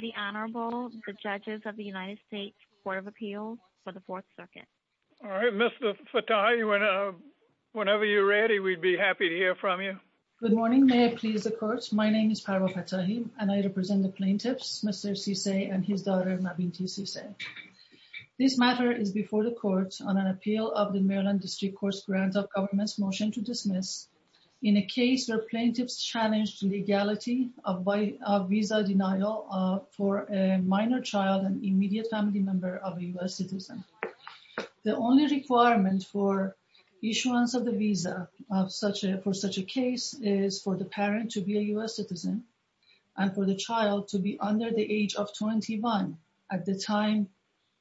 The Honorable, the Judges of the United States Court of Appeals for the Fourth Circuit. All right, Mr. Fattahi, whenever you're ready, we'd be happy to hear from you. Good morning. May I please the Court? My name is Parwa Fattahi, and I represent the plaintiffs, Mr. Sesay and his daughter, Mabinti Sesay. This matter is before the Court on an appeal of the Maryland District Court's grant of government's motion to dismiss in a case where plaintiffs challenged legality of visa denial for a minor child, an immediate family member of a U.S. citizen. The only requirement for issuance of the visa for such a case is for the parent to be a U.S. citizen and for the child to be under the age of 21 at the time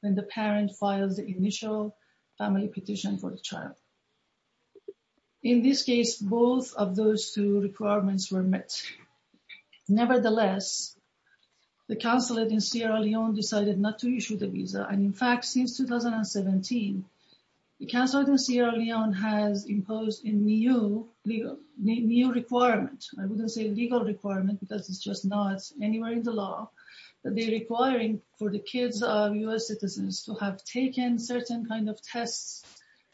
when the parent files the initial family petition for the child. In this case, both of those two requirements were met. Nevertheless, the consulate in Sierra Leone decided not to issue the visa, and in fact, since 2017, the consulate in Sierra Leone has imposed a new requirement. I wouldn't say legal requirement because it's just not anywhere in the law that they're requiring for the kids of U.S. citizens to have taken certain kind of tests,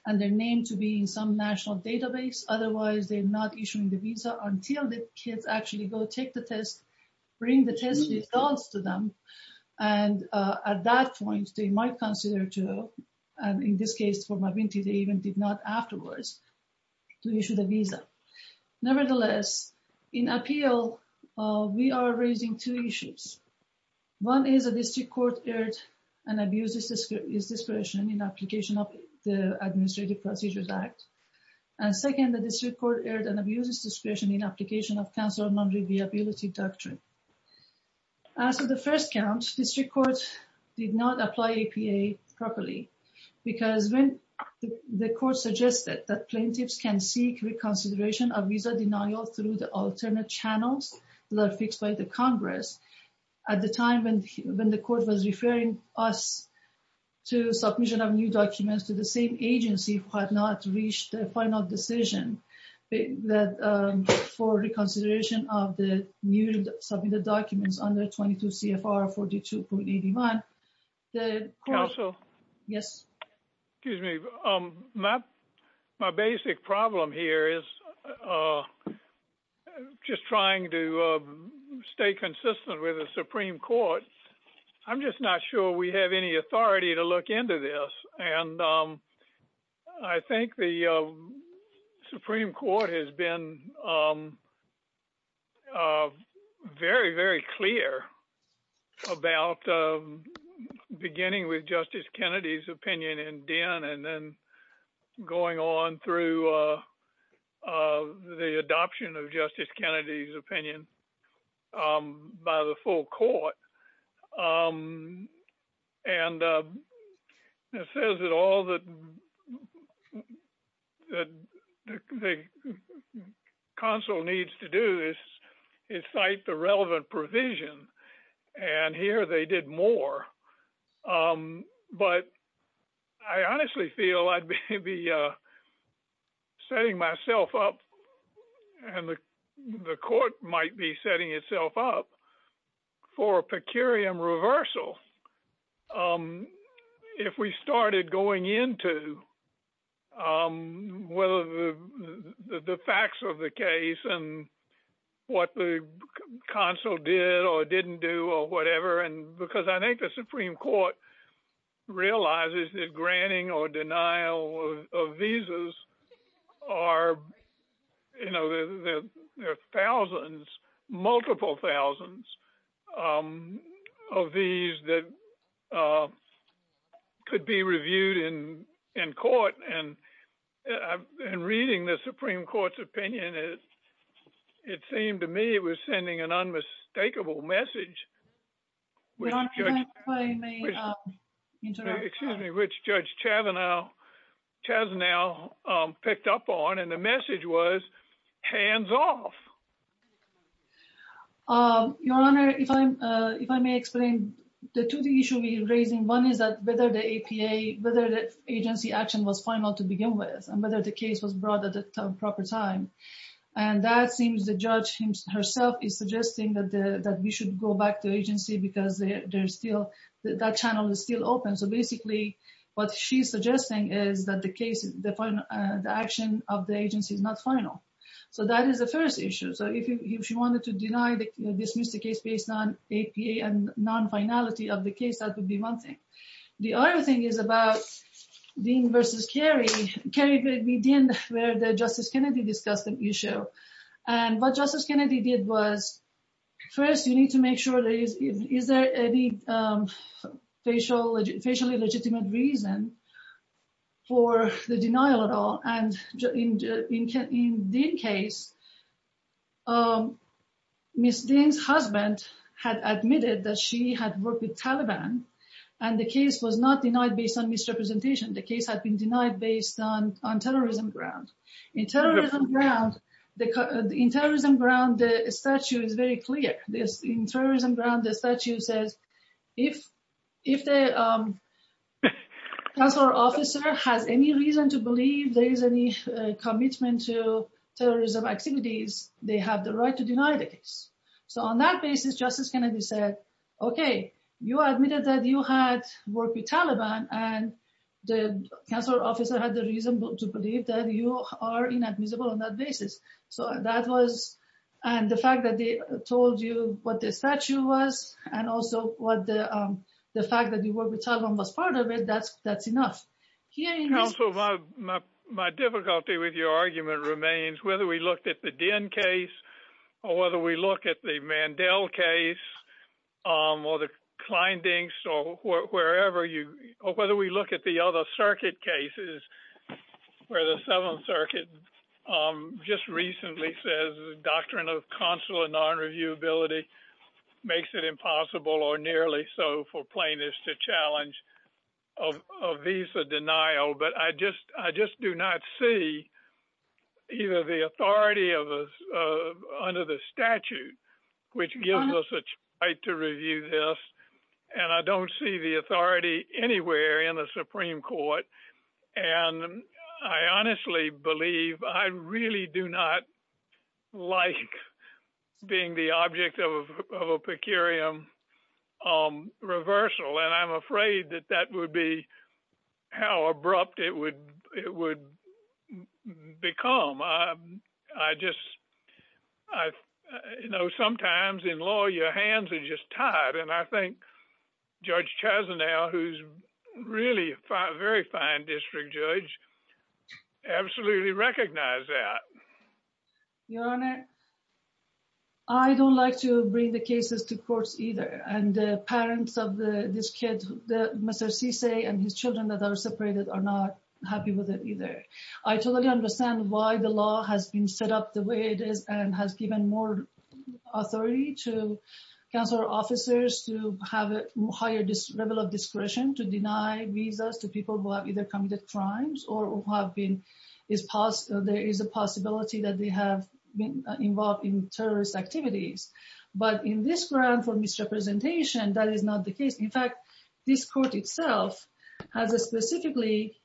and they're named to be in some national database. Otherwise, they're not issuing the visa until the kids actually go take the test, bring the test results to them, and at that point, they might consider to, and in this case for Mabinti, they even did not afterwards, to issue the visa. Nevertheless, in appeal, we are raising two issues. One is a district court erred and abuses discretion in application of the Administrative Procedures Act, and second, the district court erred and abuses discretion in application of counsel non-reliability doctrine. As for the first count, district court did not apply APA properly because when the court suggested that plaintiffs can seek reconsideration of visa denial through the alternate channels that are fixed by the Congress, at the time when the court was referring us to submission of new documents to the same agency, we have not reached a final decision for reconsideration of the new submitted documents under 22 CFR 42.81. The court... My basic problem here is just trying to stay consistent with the Supreme Court. I'm just not sure we have any authority to look into this, and I think the Supreme Court has been very, very clear about beginning with Justice Kennedy's opinion in DEN and then going on through the adoption of Justice Kennedy's opinion by the full court. And it says that all the counsel needs to do is cite the relevant provision, and here they did more. But I honestly feel I'd be setting myself up, and the court might be setting itself up, for a per curiam reversal if we started going into whether the facts of the case and what the counsel did or didn't do or whatever, because I think the Supreme Court realizes that granting or denial of visas are, you know, there are thousands, multiple thousands, um, of these that could be reviewed in court, and reading the Supreme Court's opinion, it seemed to me it was sending an unmistakable message, which Judge Chazanel picked up on, and the message was, hands off. Your Honor, if I may explain, the two things you should be raising, one is whether the APA, whether the agency action was final to begin with, and whether the case was brought at the proper time. And that seems the judge herself is suggesting that we should go back to agency because that channel is still open. So basically, what she's suggesting is that the action of the agency is not final. So that is the first issue. So if you wanted to deny, dismiss the case based on APA and non-finality of the case, that would be one thing. The other thing is about Dean versus Kerry. Kerry, we did, where Justice Kennedy discussed the issue. And what Justice Kennedy did was, first, you need to make sure there is, is there any facially legitimate reason for the denial at all. And in Dean's case, Ms. Dean's husband had admitted that she had worked with Taliban, and the case was not denied based on misrepresentation. The case had been denied based on terrorism ground. In terrorism ground, the statute is very clear. In terrorism ground, the statute says, if the consular officer has any reason to believe there is any commitment to terrorism activities, they have the right to deny the case. So on that basis, Justice Kennedy said, okay, you admitted that you had worked with Taliban, and the consular officer had the reason to believe that you are inadmissible on that basis. So that was, and the fact that they was, and also what the, the fact that you worked with Taliban was part of it, that's, that's enough. Also, my difficulty with your argument remains, whether we looked at the Dean case, or whether we look at the Mandel case, or the Kleindienst, or wherever you, or whether we look at the other circuit cases, where the Seventh Circuit just recently says, doctrine of consular non-reviewability makes it impossible, or nearly so, for plaintiffs to challenge a visa denial. But I just, I just do not see either the authority of, under the statute, which gives us a right to review this. And I don't see the authority anywhere in the Supreme Court. And I honestly believe, I really do not like being the object of a per curiam reversal. And I'm afraid that that would be how abrupt it would, it would become. I just, I, you know, sometimes in law, your hands are just tied. And I think Judge Chazanel, who's really a fine, very fine district judge, absolutely recognize that. Your Honor, I don't like to bring the cases to courts either. And the parents of the, this kid, the, Mr. Sisay, and his children that are separated are not happy with it either. I totally understand why the law has been set up the way it is, and has given more authority to officers to have a higher level of discretion to deny visas to people who have either committed crimes or who have been, there is a possibility that they have been involved in terrorist activities. But in this ground for misrepresentation, that is not the case. In fact, this court itself has specifically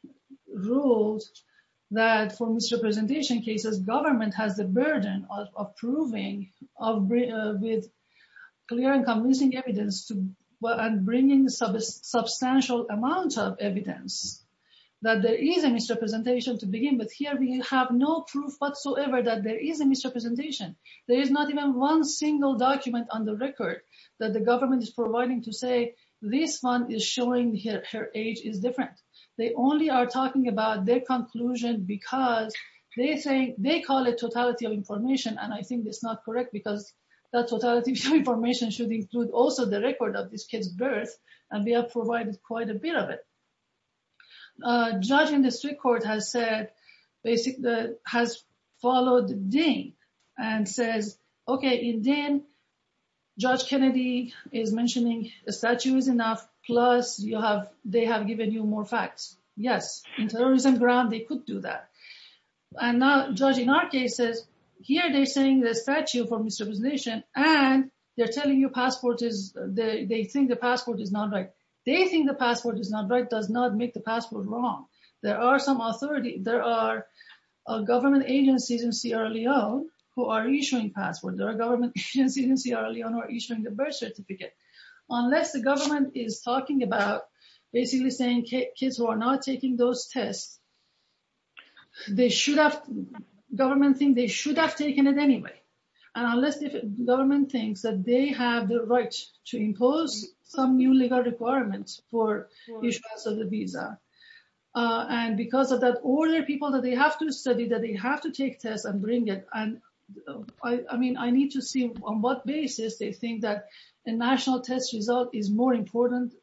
ruled that for misrepresentation cases, government has the burden of proving, of with clear and convincing evidence to, and bringing substantial amounts of evidence that there is a misrepresentation to begin with. Here we have no proof whatsoever that there is a misrepresentation. There is not even one single document on the record that the government is providing to say this one is showing her age is different. They only are talking about their information. And I think that's not correct, because that total information should include also the record of this kid's birth. And we have provided quite a bit of it. Judging the street court has said, basically, has followed Dane and says, okay, in Dane, Judge Kennedy is mentioning the statues enough, plus you have, they have given you more facts. Yes, in terrorism ground, they could do that. And now, judging our cases, here they're saying this statue for misrepresentation, and they're telling you passport is, they think the passport is not right. They think the passport is not right, does not make the passport wrong. There are some authority, there are government agencies in Sierra Leone, who are issuing passports. There are government agencies in Sierra Leone who are issuing the birth certificate. Unless the government is talking about, basically, saying kids who are not taking those tests, they should have, government think they should have taken it anyway. And unless the government thinks that they have the right to impose some new legal requirements for issuance of the visa. And because of that order, people that they have to study, that they have to take tests and bring and I mean, I need to see on what basis they think that a national test result is more important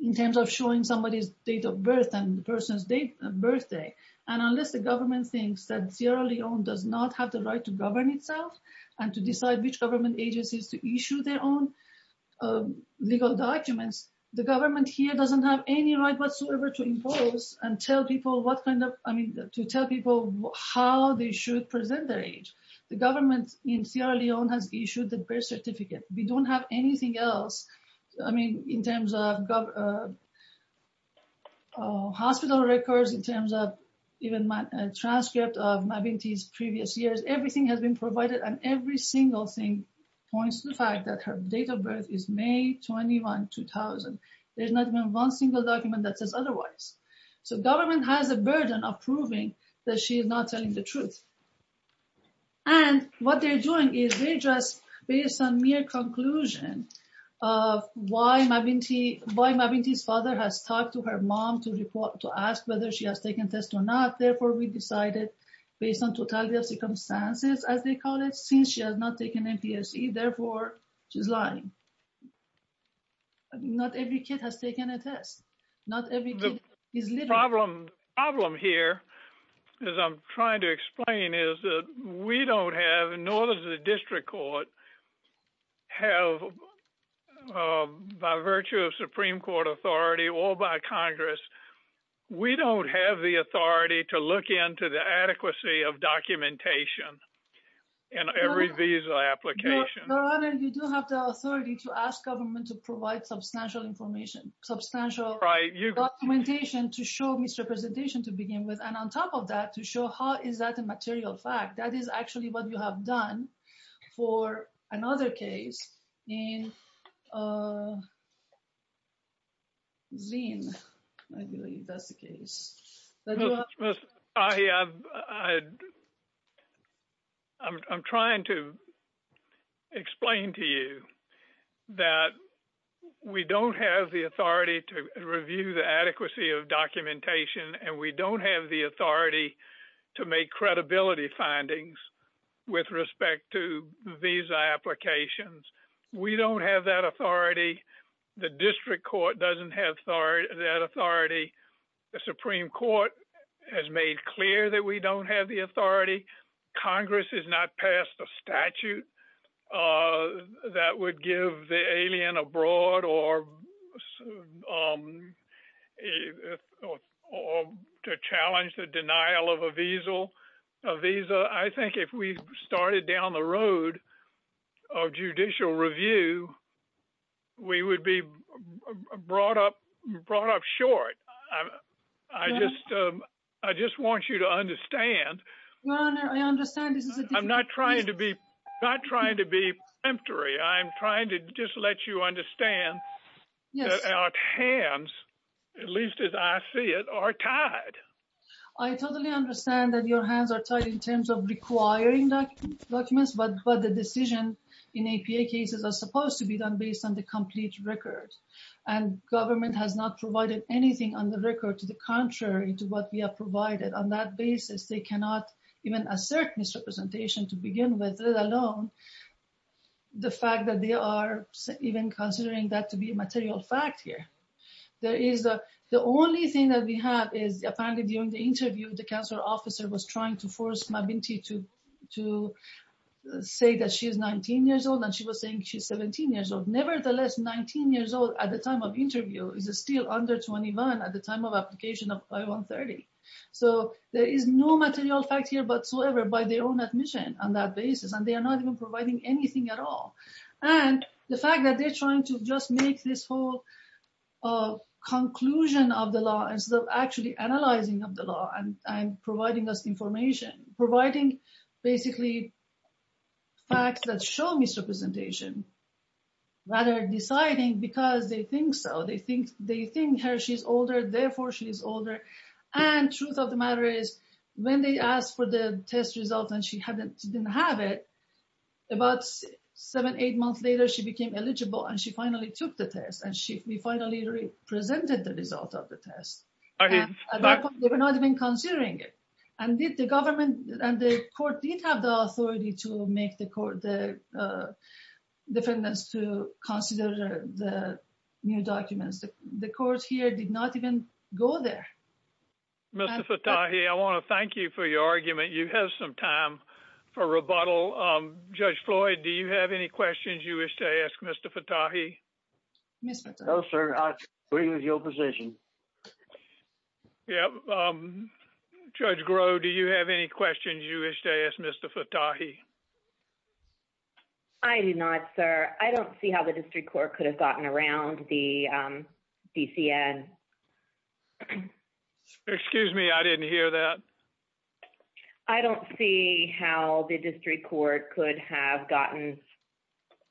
in terms of showing somebody's date of birth and the person's date of birthday. And unless the government thinks that Sierra Leone does not have the right to govern itself, and to decide which government agencies to issue their own legal documents, the government here doesn't have any right whatsoever to impose and tell people what kind of, I mean, to tell people how they should present their age. The government in Sierra Leone has issued the birth certificate. We don't have anything else. I mean, in terms of hospital records, in terms of even my transcript of my baby's previous years, everything has been provided and every single thing points to the fact that her date of birth is May 21, 2000. There's not even one single document that says otherwise. So government has a burden of proving that she is not telling the truth. And what they're doing is they're just based on mere conclusion of why Mabinti's father has talked to her mom to ask whether she has taken tests or not. Therefore, we decided, based on totality of circumstances, as they call it, since she has not taken MPSE, therefore, she's lying. Not every kid has taken a test. Not every kid is living. The problem here, as I'm trying to explain, is that we don't have, nor does the district court have, by virtue of Supreme Court authority or by Congress, we don't have the authority to look into the adequacy of documentation in every visa application. Your Honor, you do have the authority to ask government to provide substantial information, substantial documentation to show misrepresentation to begin with, and on top of that to show how is that a material fact. That is actually what you have done for another case in the past. I'm trying to explain to you that we don't have the authority to review the adequacy of documentation and we don't have the authority to make credibility findings with respect to visa applications. We don't have that authority. The district court doesn't have that authority. The Supreme Court has made clear that we don't have the authority. Congress has not passed a statute that would give the alien abroad or to challenge the denial of a visa. I think if we started down the road of judicial review, we would be brought up short. I just want you to understand. I'm not trying to be not trying to be empty. I'm trying to just let you understand that our hands, at least as I see it, are tied. I totally understand that your hands are tied in requiring documents, but the decision in APA cases are supposed to be done based on the complete record and government has not provided anything on the record to the contrary to what we have provided. On that basis, they cannot even assert misrepresentation to begin with, let alone the fact that they are even considering that to be a material fact here. The only thing that we have is apparently during the interview, the council officer was trying to force Mabinti to say that she is 19 years old and she was saying she's 17 years old. Nevertheless, 19 years old at the time of interview is still under 21 at the time of application of I-130. So there is no material fact here whatsoever by their own admission on that basis and they are not even providing anything at all. The fact that they're trying to just make this whole conclusion of the law instead of actually analyzing of the law and providing us information, providing basically facts that show misrepresentation, rather deciding because they think so. They think she's older, therefore she's older. And truth of the matter is when they asked for the test results and she didn't have it, about seven, eight months later, she became eligible and she finally took the test and we finally presented the result of the test. At that point, they were not even considering it and did the government and the court did have the authority to make the court the defendants to consider the new documents. The court here did not even go there. Mr. Fattahi, I want to thank you for your argument. You have some time for rebuttal. Judge Floyd, do you have any questions you wish to ask Mr. Fattahi? No, sir. I agree with your position. Yeah. Judge Groh, do you have any questions you wish to ask Mr. Fattahi? I do not, sir. I don't see how the district court could have gotten around the DCN. Excuse me, I didn't hear that. I don't see how the district court could have gotten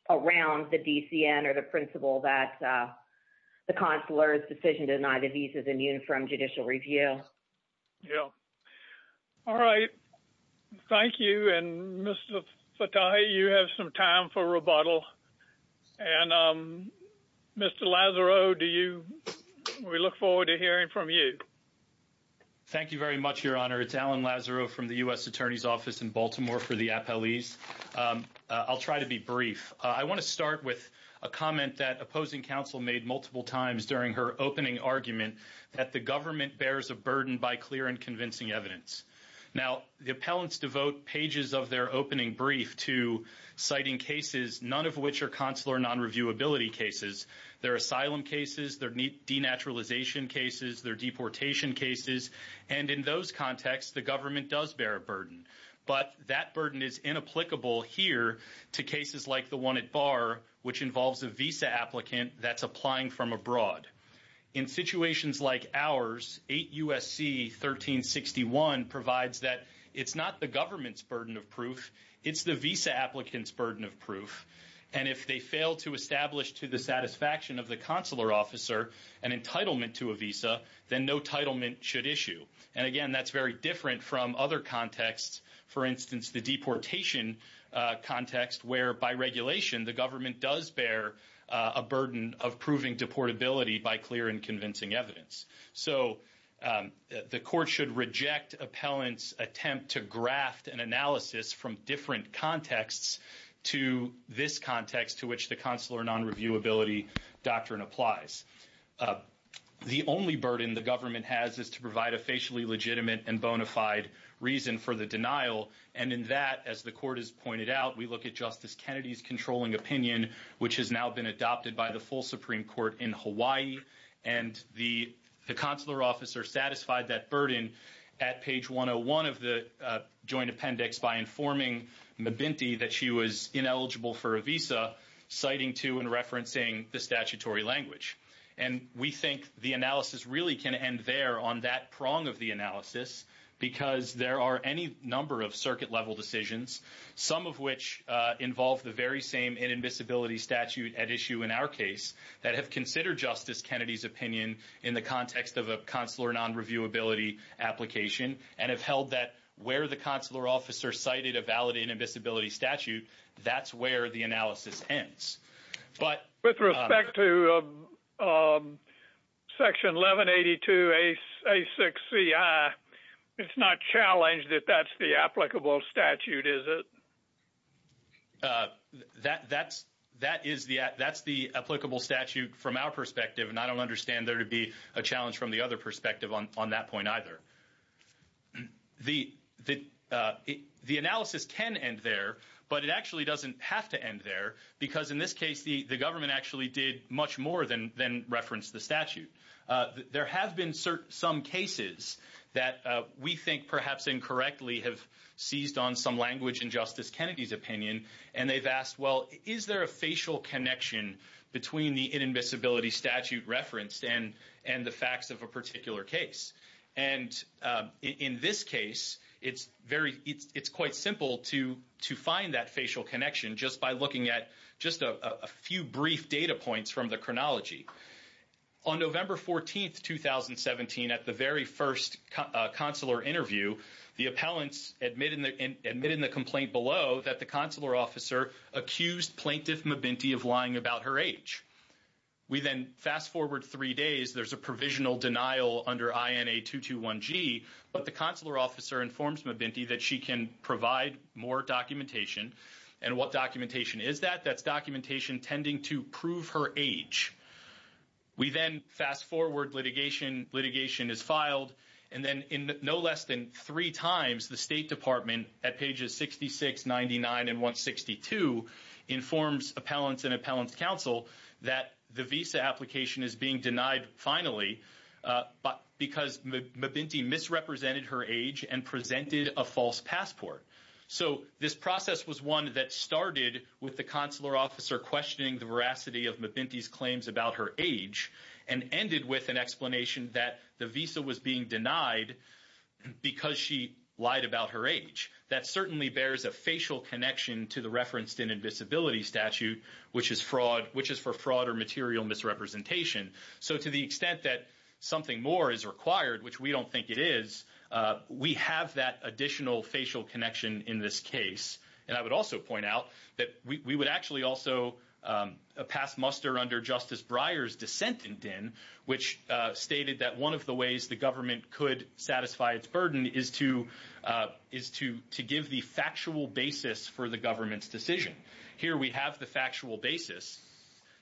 around the DCN or the principle that the consular's decision to deny the visa is immune from judicial review. Yeah. All right. Thank you. And Mr. Fattahi, you have some time for rebuttal. And Mr. Lazaro, we look forward to hearing from you. Thank you very much, Your Honor. It's Alan Lazaro from the U.S. Attorney's Office in Baltimore for the appellees. I'll try to be brief. I want to start with a comment that opposing counsel made multiple times during her opening argument that the government bears a burden by clear and convincing evidence. Now, the appellants devote pages of their opening brief to citing cases, none of which are consular non-reviewability cases. They're asylum cases, they're denaturalization cases, they're deportation cases. And in those contexts, the government does bear a burden. But that burden is inapplicable here to cases like the one at Barr, which involves a visa applicant that's applying from abroad. In situations like ours, 8 U.S.C. 1361 provides that it's not the government's burden of proof, it's the visa applicant's burden of proof. And if they fail to establish to the satisfaction of the consular officer an entitlement to a visa, then no titlement should issue. And again, that's very different from other contexts. For instance, the deportation context, where by regulation, the government does bear a burden of proving deportability by clear and convincing evidence. So the court should reject appellants' attempt to graft an analysis from different contexts to this context to which the consular non-reviewability doctrine applies. The only burden the government has is to provide a facially legitimate and bona fide reason for the denial. And in that, as the court has pointed out, we look at Justice Kennedy's controlling opinion, which has now been adopted by the full Supreme Court in Hawaii. And the consular officer satisfied that burden at page 101 of the joint appendix by informing Mbinte that she was ineligible for a visa, citing to and referencing the statutory language. And we think the analysis really can end there on that prong of the analysis, because there are any number of circuit-level decisions, some of which involve the very same inadmissibility statute at issue in our case, that have considered Justice Kennedy's opinion in the context of a consular non-reviewability application, and have held that where the inadmissibility statute, that's where the analysis ends. But with respect to section 1182A6CI, it's not challenged that that's the applicable statute, is it? That's the applicable statute from our perspective, and I don't understand there to be a challenge from the other perspective on that point either. The analysis can end there, but it actually doesn't have to end there, because in this case, the government actually did much more than reference the statute. There have been some cases that we think perhaps incorrectly have seized on some language in Justice Kennedy's opinion, and they've asked, well, is there a facial connection between the inadmissibility statute referenced and the facts of a particular case? And in this case, it's quite simple to find that facial connection just by looking at just a few brief data points from the chronology. On November 14, 2017, at the very first consular interview, the appellants admitted in the complaint below that the consular officer accused Plaintiff Mabinty of lying about her age. We then fast forward three days, there's a provisional denial under INA 221G, but the consular officer informs Mabinty that she can provide more documentation, and what documentation is that? That's documentation tending to prove her age. We then fast forward litigation, litigation is filed, and then in no less than three times, the State Department at pages 66, 99, and 162 informs appellants and appellants counsel that the visa application is being denied finally, because Mabinty misrepresented her age and presented a false passport. So this process was one that started with the consular officer questioning the veracity of Mabinty's claims about her age, and ended with an explanation that the visa was being denied because she lied about her disability statute, which is for fraud or material misrepresentation. So to the extent that something more is required, which we don't think it is, we have that additional facial connection in this case. And I would also point out that we would actually also pass muster under Justice Breyer's dissent in DIN, which stated that one of the ways the government could satisfy its burden is to give the factual basis for the government's decision. Here we have the factual basis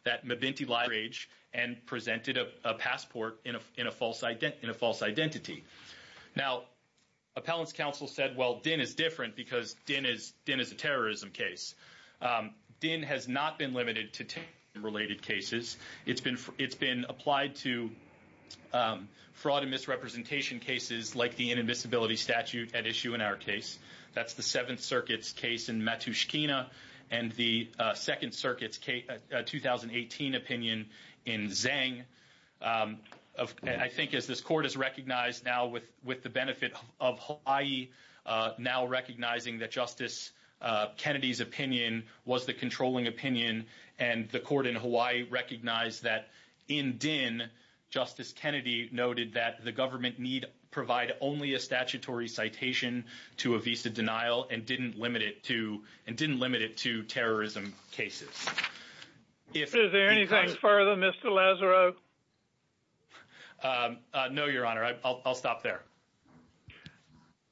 that Mabinty lied about her age and presented a passport in a false identity. Now, appellants counsel said, well, DIN is different because DIN is a terrorism case. DIN has not been limited to terrorism related cases. It's been applied to fraud and misrepresentation cases like the inadmissibility statute at issue in our case. That's the Seventh Circuit's case in Matushkina, and the Second Circuit's 2018 opinion in Zang. I think as this court is recognized now with the benefit of Hawaii now recognizing that Justice Kennedy's opinion was the controlling opinion, and the court in Hawaii recognized that in DIN, Justice Kennedy noted that the government need provide only a statutory citation to a visa denial and didn't limit it to terrorism cases. Is there anything further, Mr. Lazaro? No, Your Honor. I'll stop there.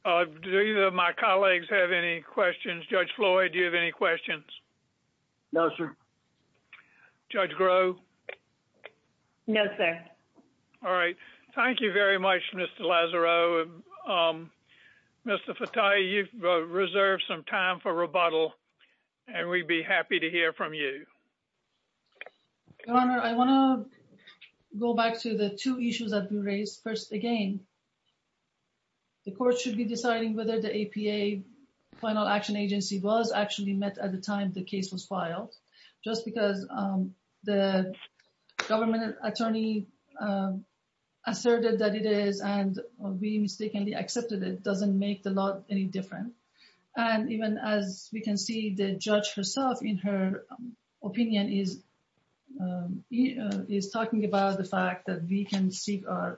Do either of my colleagues have any questions? Judge Floyd, do you have any questions? No, sir. Judge Grove? No, sir. All right. Thank you very much, Mr. Lazaro. Mr. Fatai, you've reserved some time for rebuttal, and we'd be happy to hear from you. Your Honor, I want to go back to the two issues that we raised. First, again, the court should be deciding whether the APA Final Action Agency was actually met at the time the case was filed, just because the government attorney asserted that it is, and we mistakenly accepted it doesn't make the law any different. And even as we can see the judge herself in her opinion is talking about the fact that we can seek a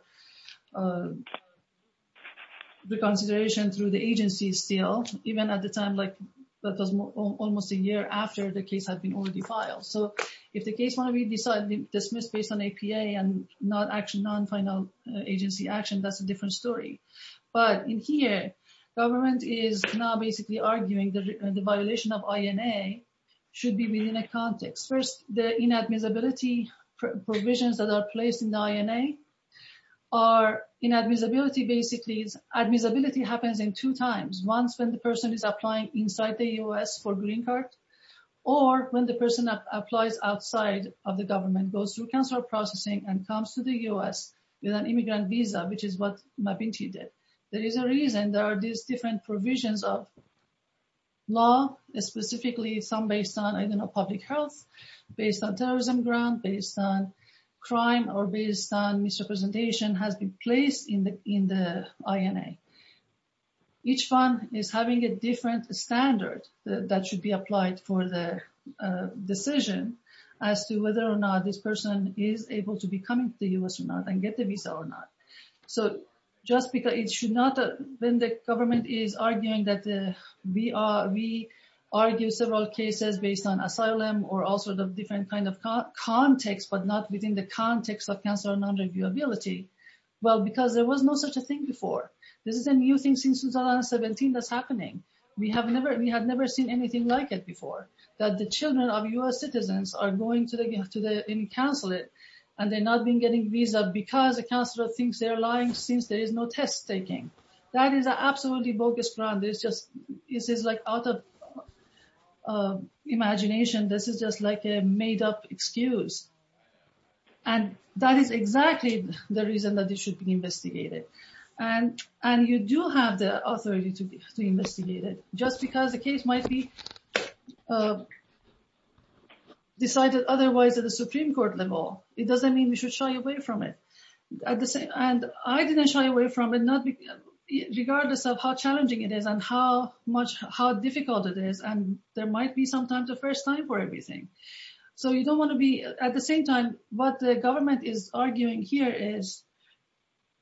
reconsideration through the agency still, even at the time like that was almost a year after the case had been already filed. So if the case might be dismissed based on APA and not actual non-final agency action, that's a different story. But in here, government is now basically arguing that the violation of INA should be within a context. First, the inadmissibility provisions that are placed in the INA are inadmissibility basically is admissibility happens in two times. Once when the person is applying inside the U.S. for a green card, or when the person applies outside of the government, goes through consular processing, and comes to the U.S. with an immigrant visa, which is what Mabinchi did. There is a reason there are these different provisions of law, specifically some based on, I don't know, public health, based on terrorism grounds, based on crime, or based on misrepresentation has been placed in the INA. Each fund is having a different standard that should be applied for the decision as to whether or not this person is able to be coming to the U.S. or not and get the visa or not. So just because it should not, when the government is arguing that we argue several cases based on asylum or also the different kind of context, but not within the context of consular non-reviewability, well, because there was no such a thing before. This is a new thing since 2017 that's happening. We have never, we have never seen anything like it before, that the children of U.S. citizens are going to the, to the consulate, and they're not being getting visa because the consular thinks they're lying since there is no test taking. That is an absolutely bogus ground. It's just, it is like out of imagination. This is just like a made up excuse. And that is exactly the reason that it should be investigated. And you do have the authority to investigate it. Just because the case might be decided otherwise at the Supreme Court level, it doesn't mean we should shy away from it. And I didn't shy away from it, regardless of how challenging it is and how how difficult it is. And there might be sometimes a first time for everything. So you don't want to be, at the same time, what the government is arguing here is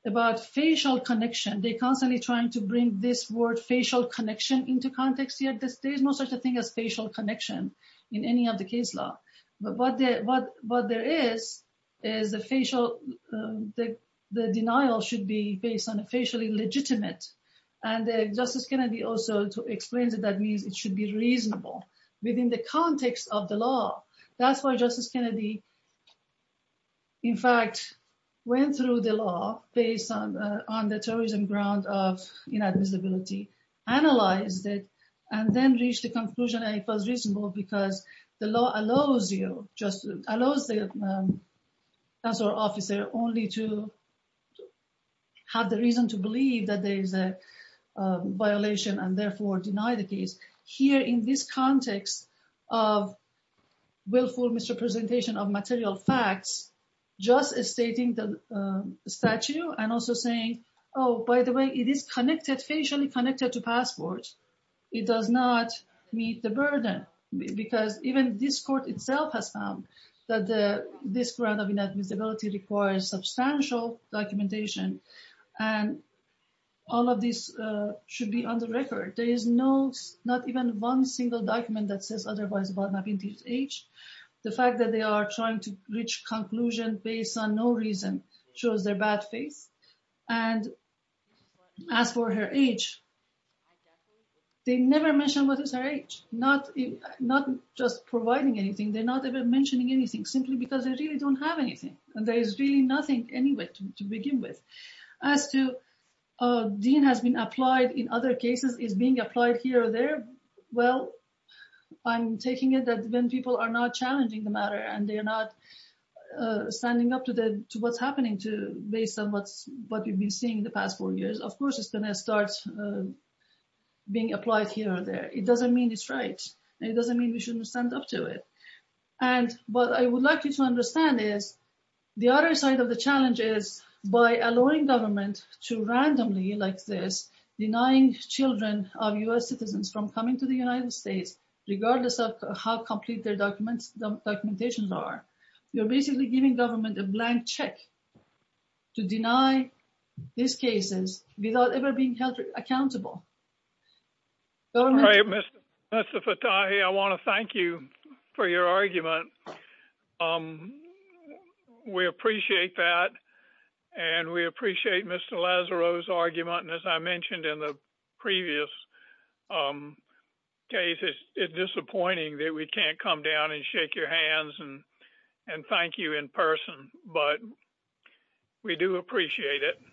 about facial connection. They're constantly trying to bring this word facial connection into context here. There is no such a thing as facial connection in any of the case law. But what there is, is the facial, the denial should be based on a facially legitimate. And Justice Kennedy also explains that that means it should be reasonable within the context of the law. That's why Justice Kennedy, in fact, went through the law based on the terrorism ground of inadmissibility, analyzed it, and then reached the conclusion that it was reasonable because the law allows you, just a violation and therefore deny the case. Here in this context of willful misrepresentation of material facts, just stating the statute and also saying, oh, by the way, it is connected, facially connected to passports, it does not meet the burden. Because even this court itself has that this ground of inadmissibility requires substantial documentation. And all of this should be on the record. There is no, not even one single document that says otherwise about Navinti's age. The fact that they are trying to reach conclusion based on no reason, shows their bad faith. And as for her age, they never mentioned what is her age, not just providing anything. They're not even mentioning anything simply because they really don't have anything. And there is really nothing anyway to begin with. As to Dean has been applied in other cases is being applied here or there. Well, I'm taking it that when people are not challenging the matter, and they're not standing up to what's happening to based on what we've been seeing the past four years, of course, it's going to start being applied here or there. It doesn't mean it's right. It doesn't mean we shouldn't stand up to it. And what I would like you to understand is, the other side of the challenge is by allowing government to randomly like this, denying children of US citizens from coming to the United States, regardless of how complete their documents, documentations are, you're basically giving government a blank check to deny these cases without ever being held accountable. All right, Mr. Fatahi, I want to thank you for your argument. We appreciate that. And we appreciate Mr. Lazaro's argument. And as I mentioned in the previous case, it's disappointing that we can't come down and shake your hands and thank you in person. But we do appreciate it.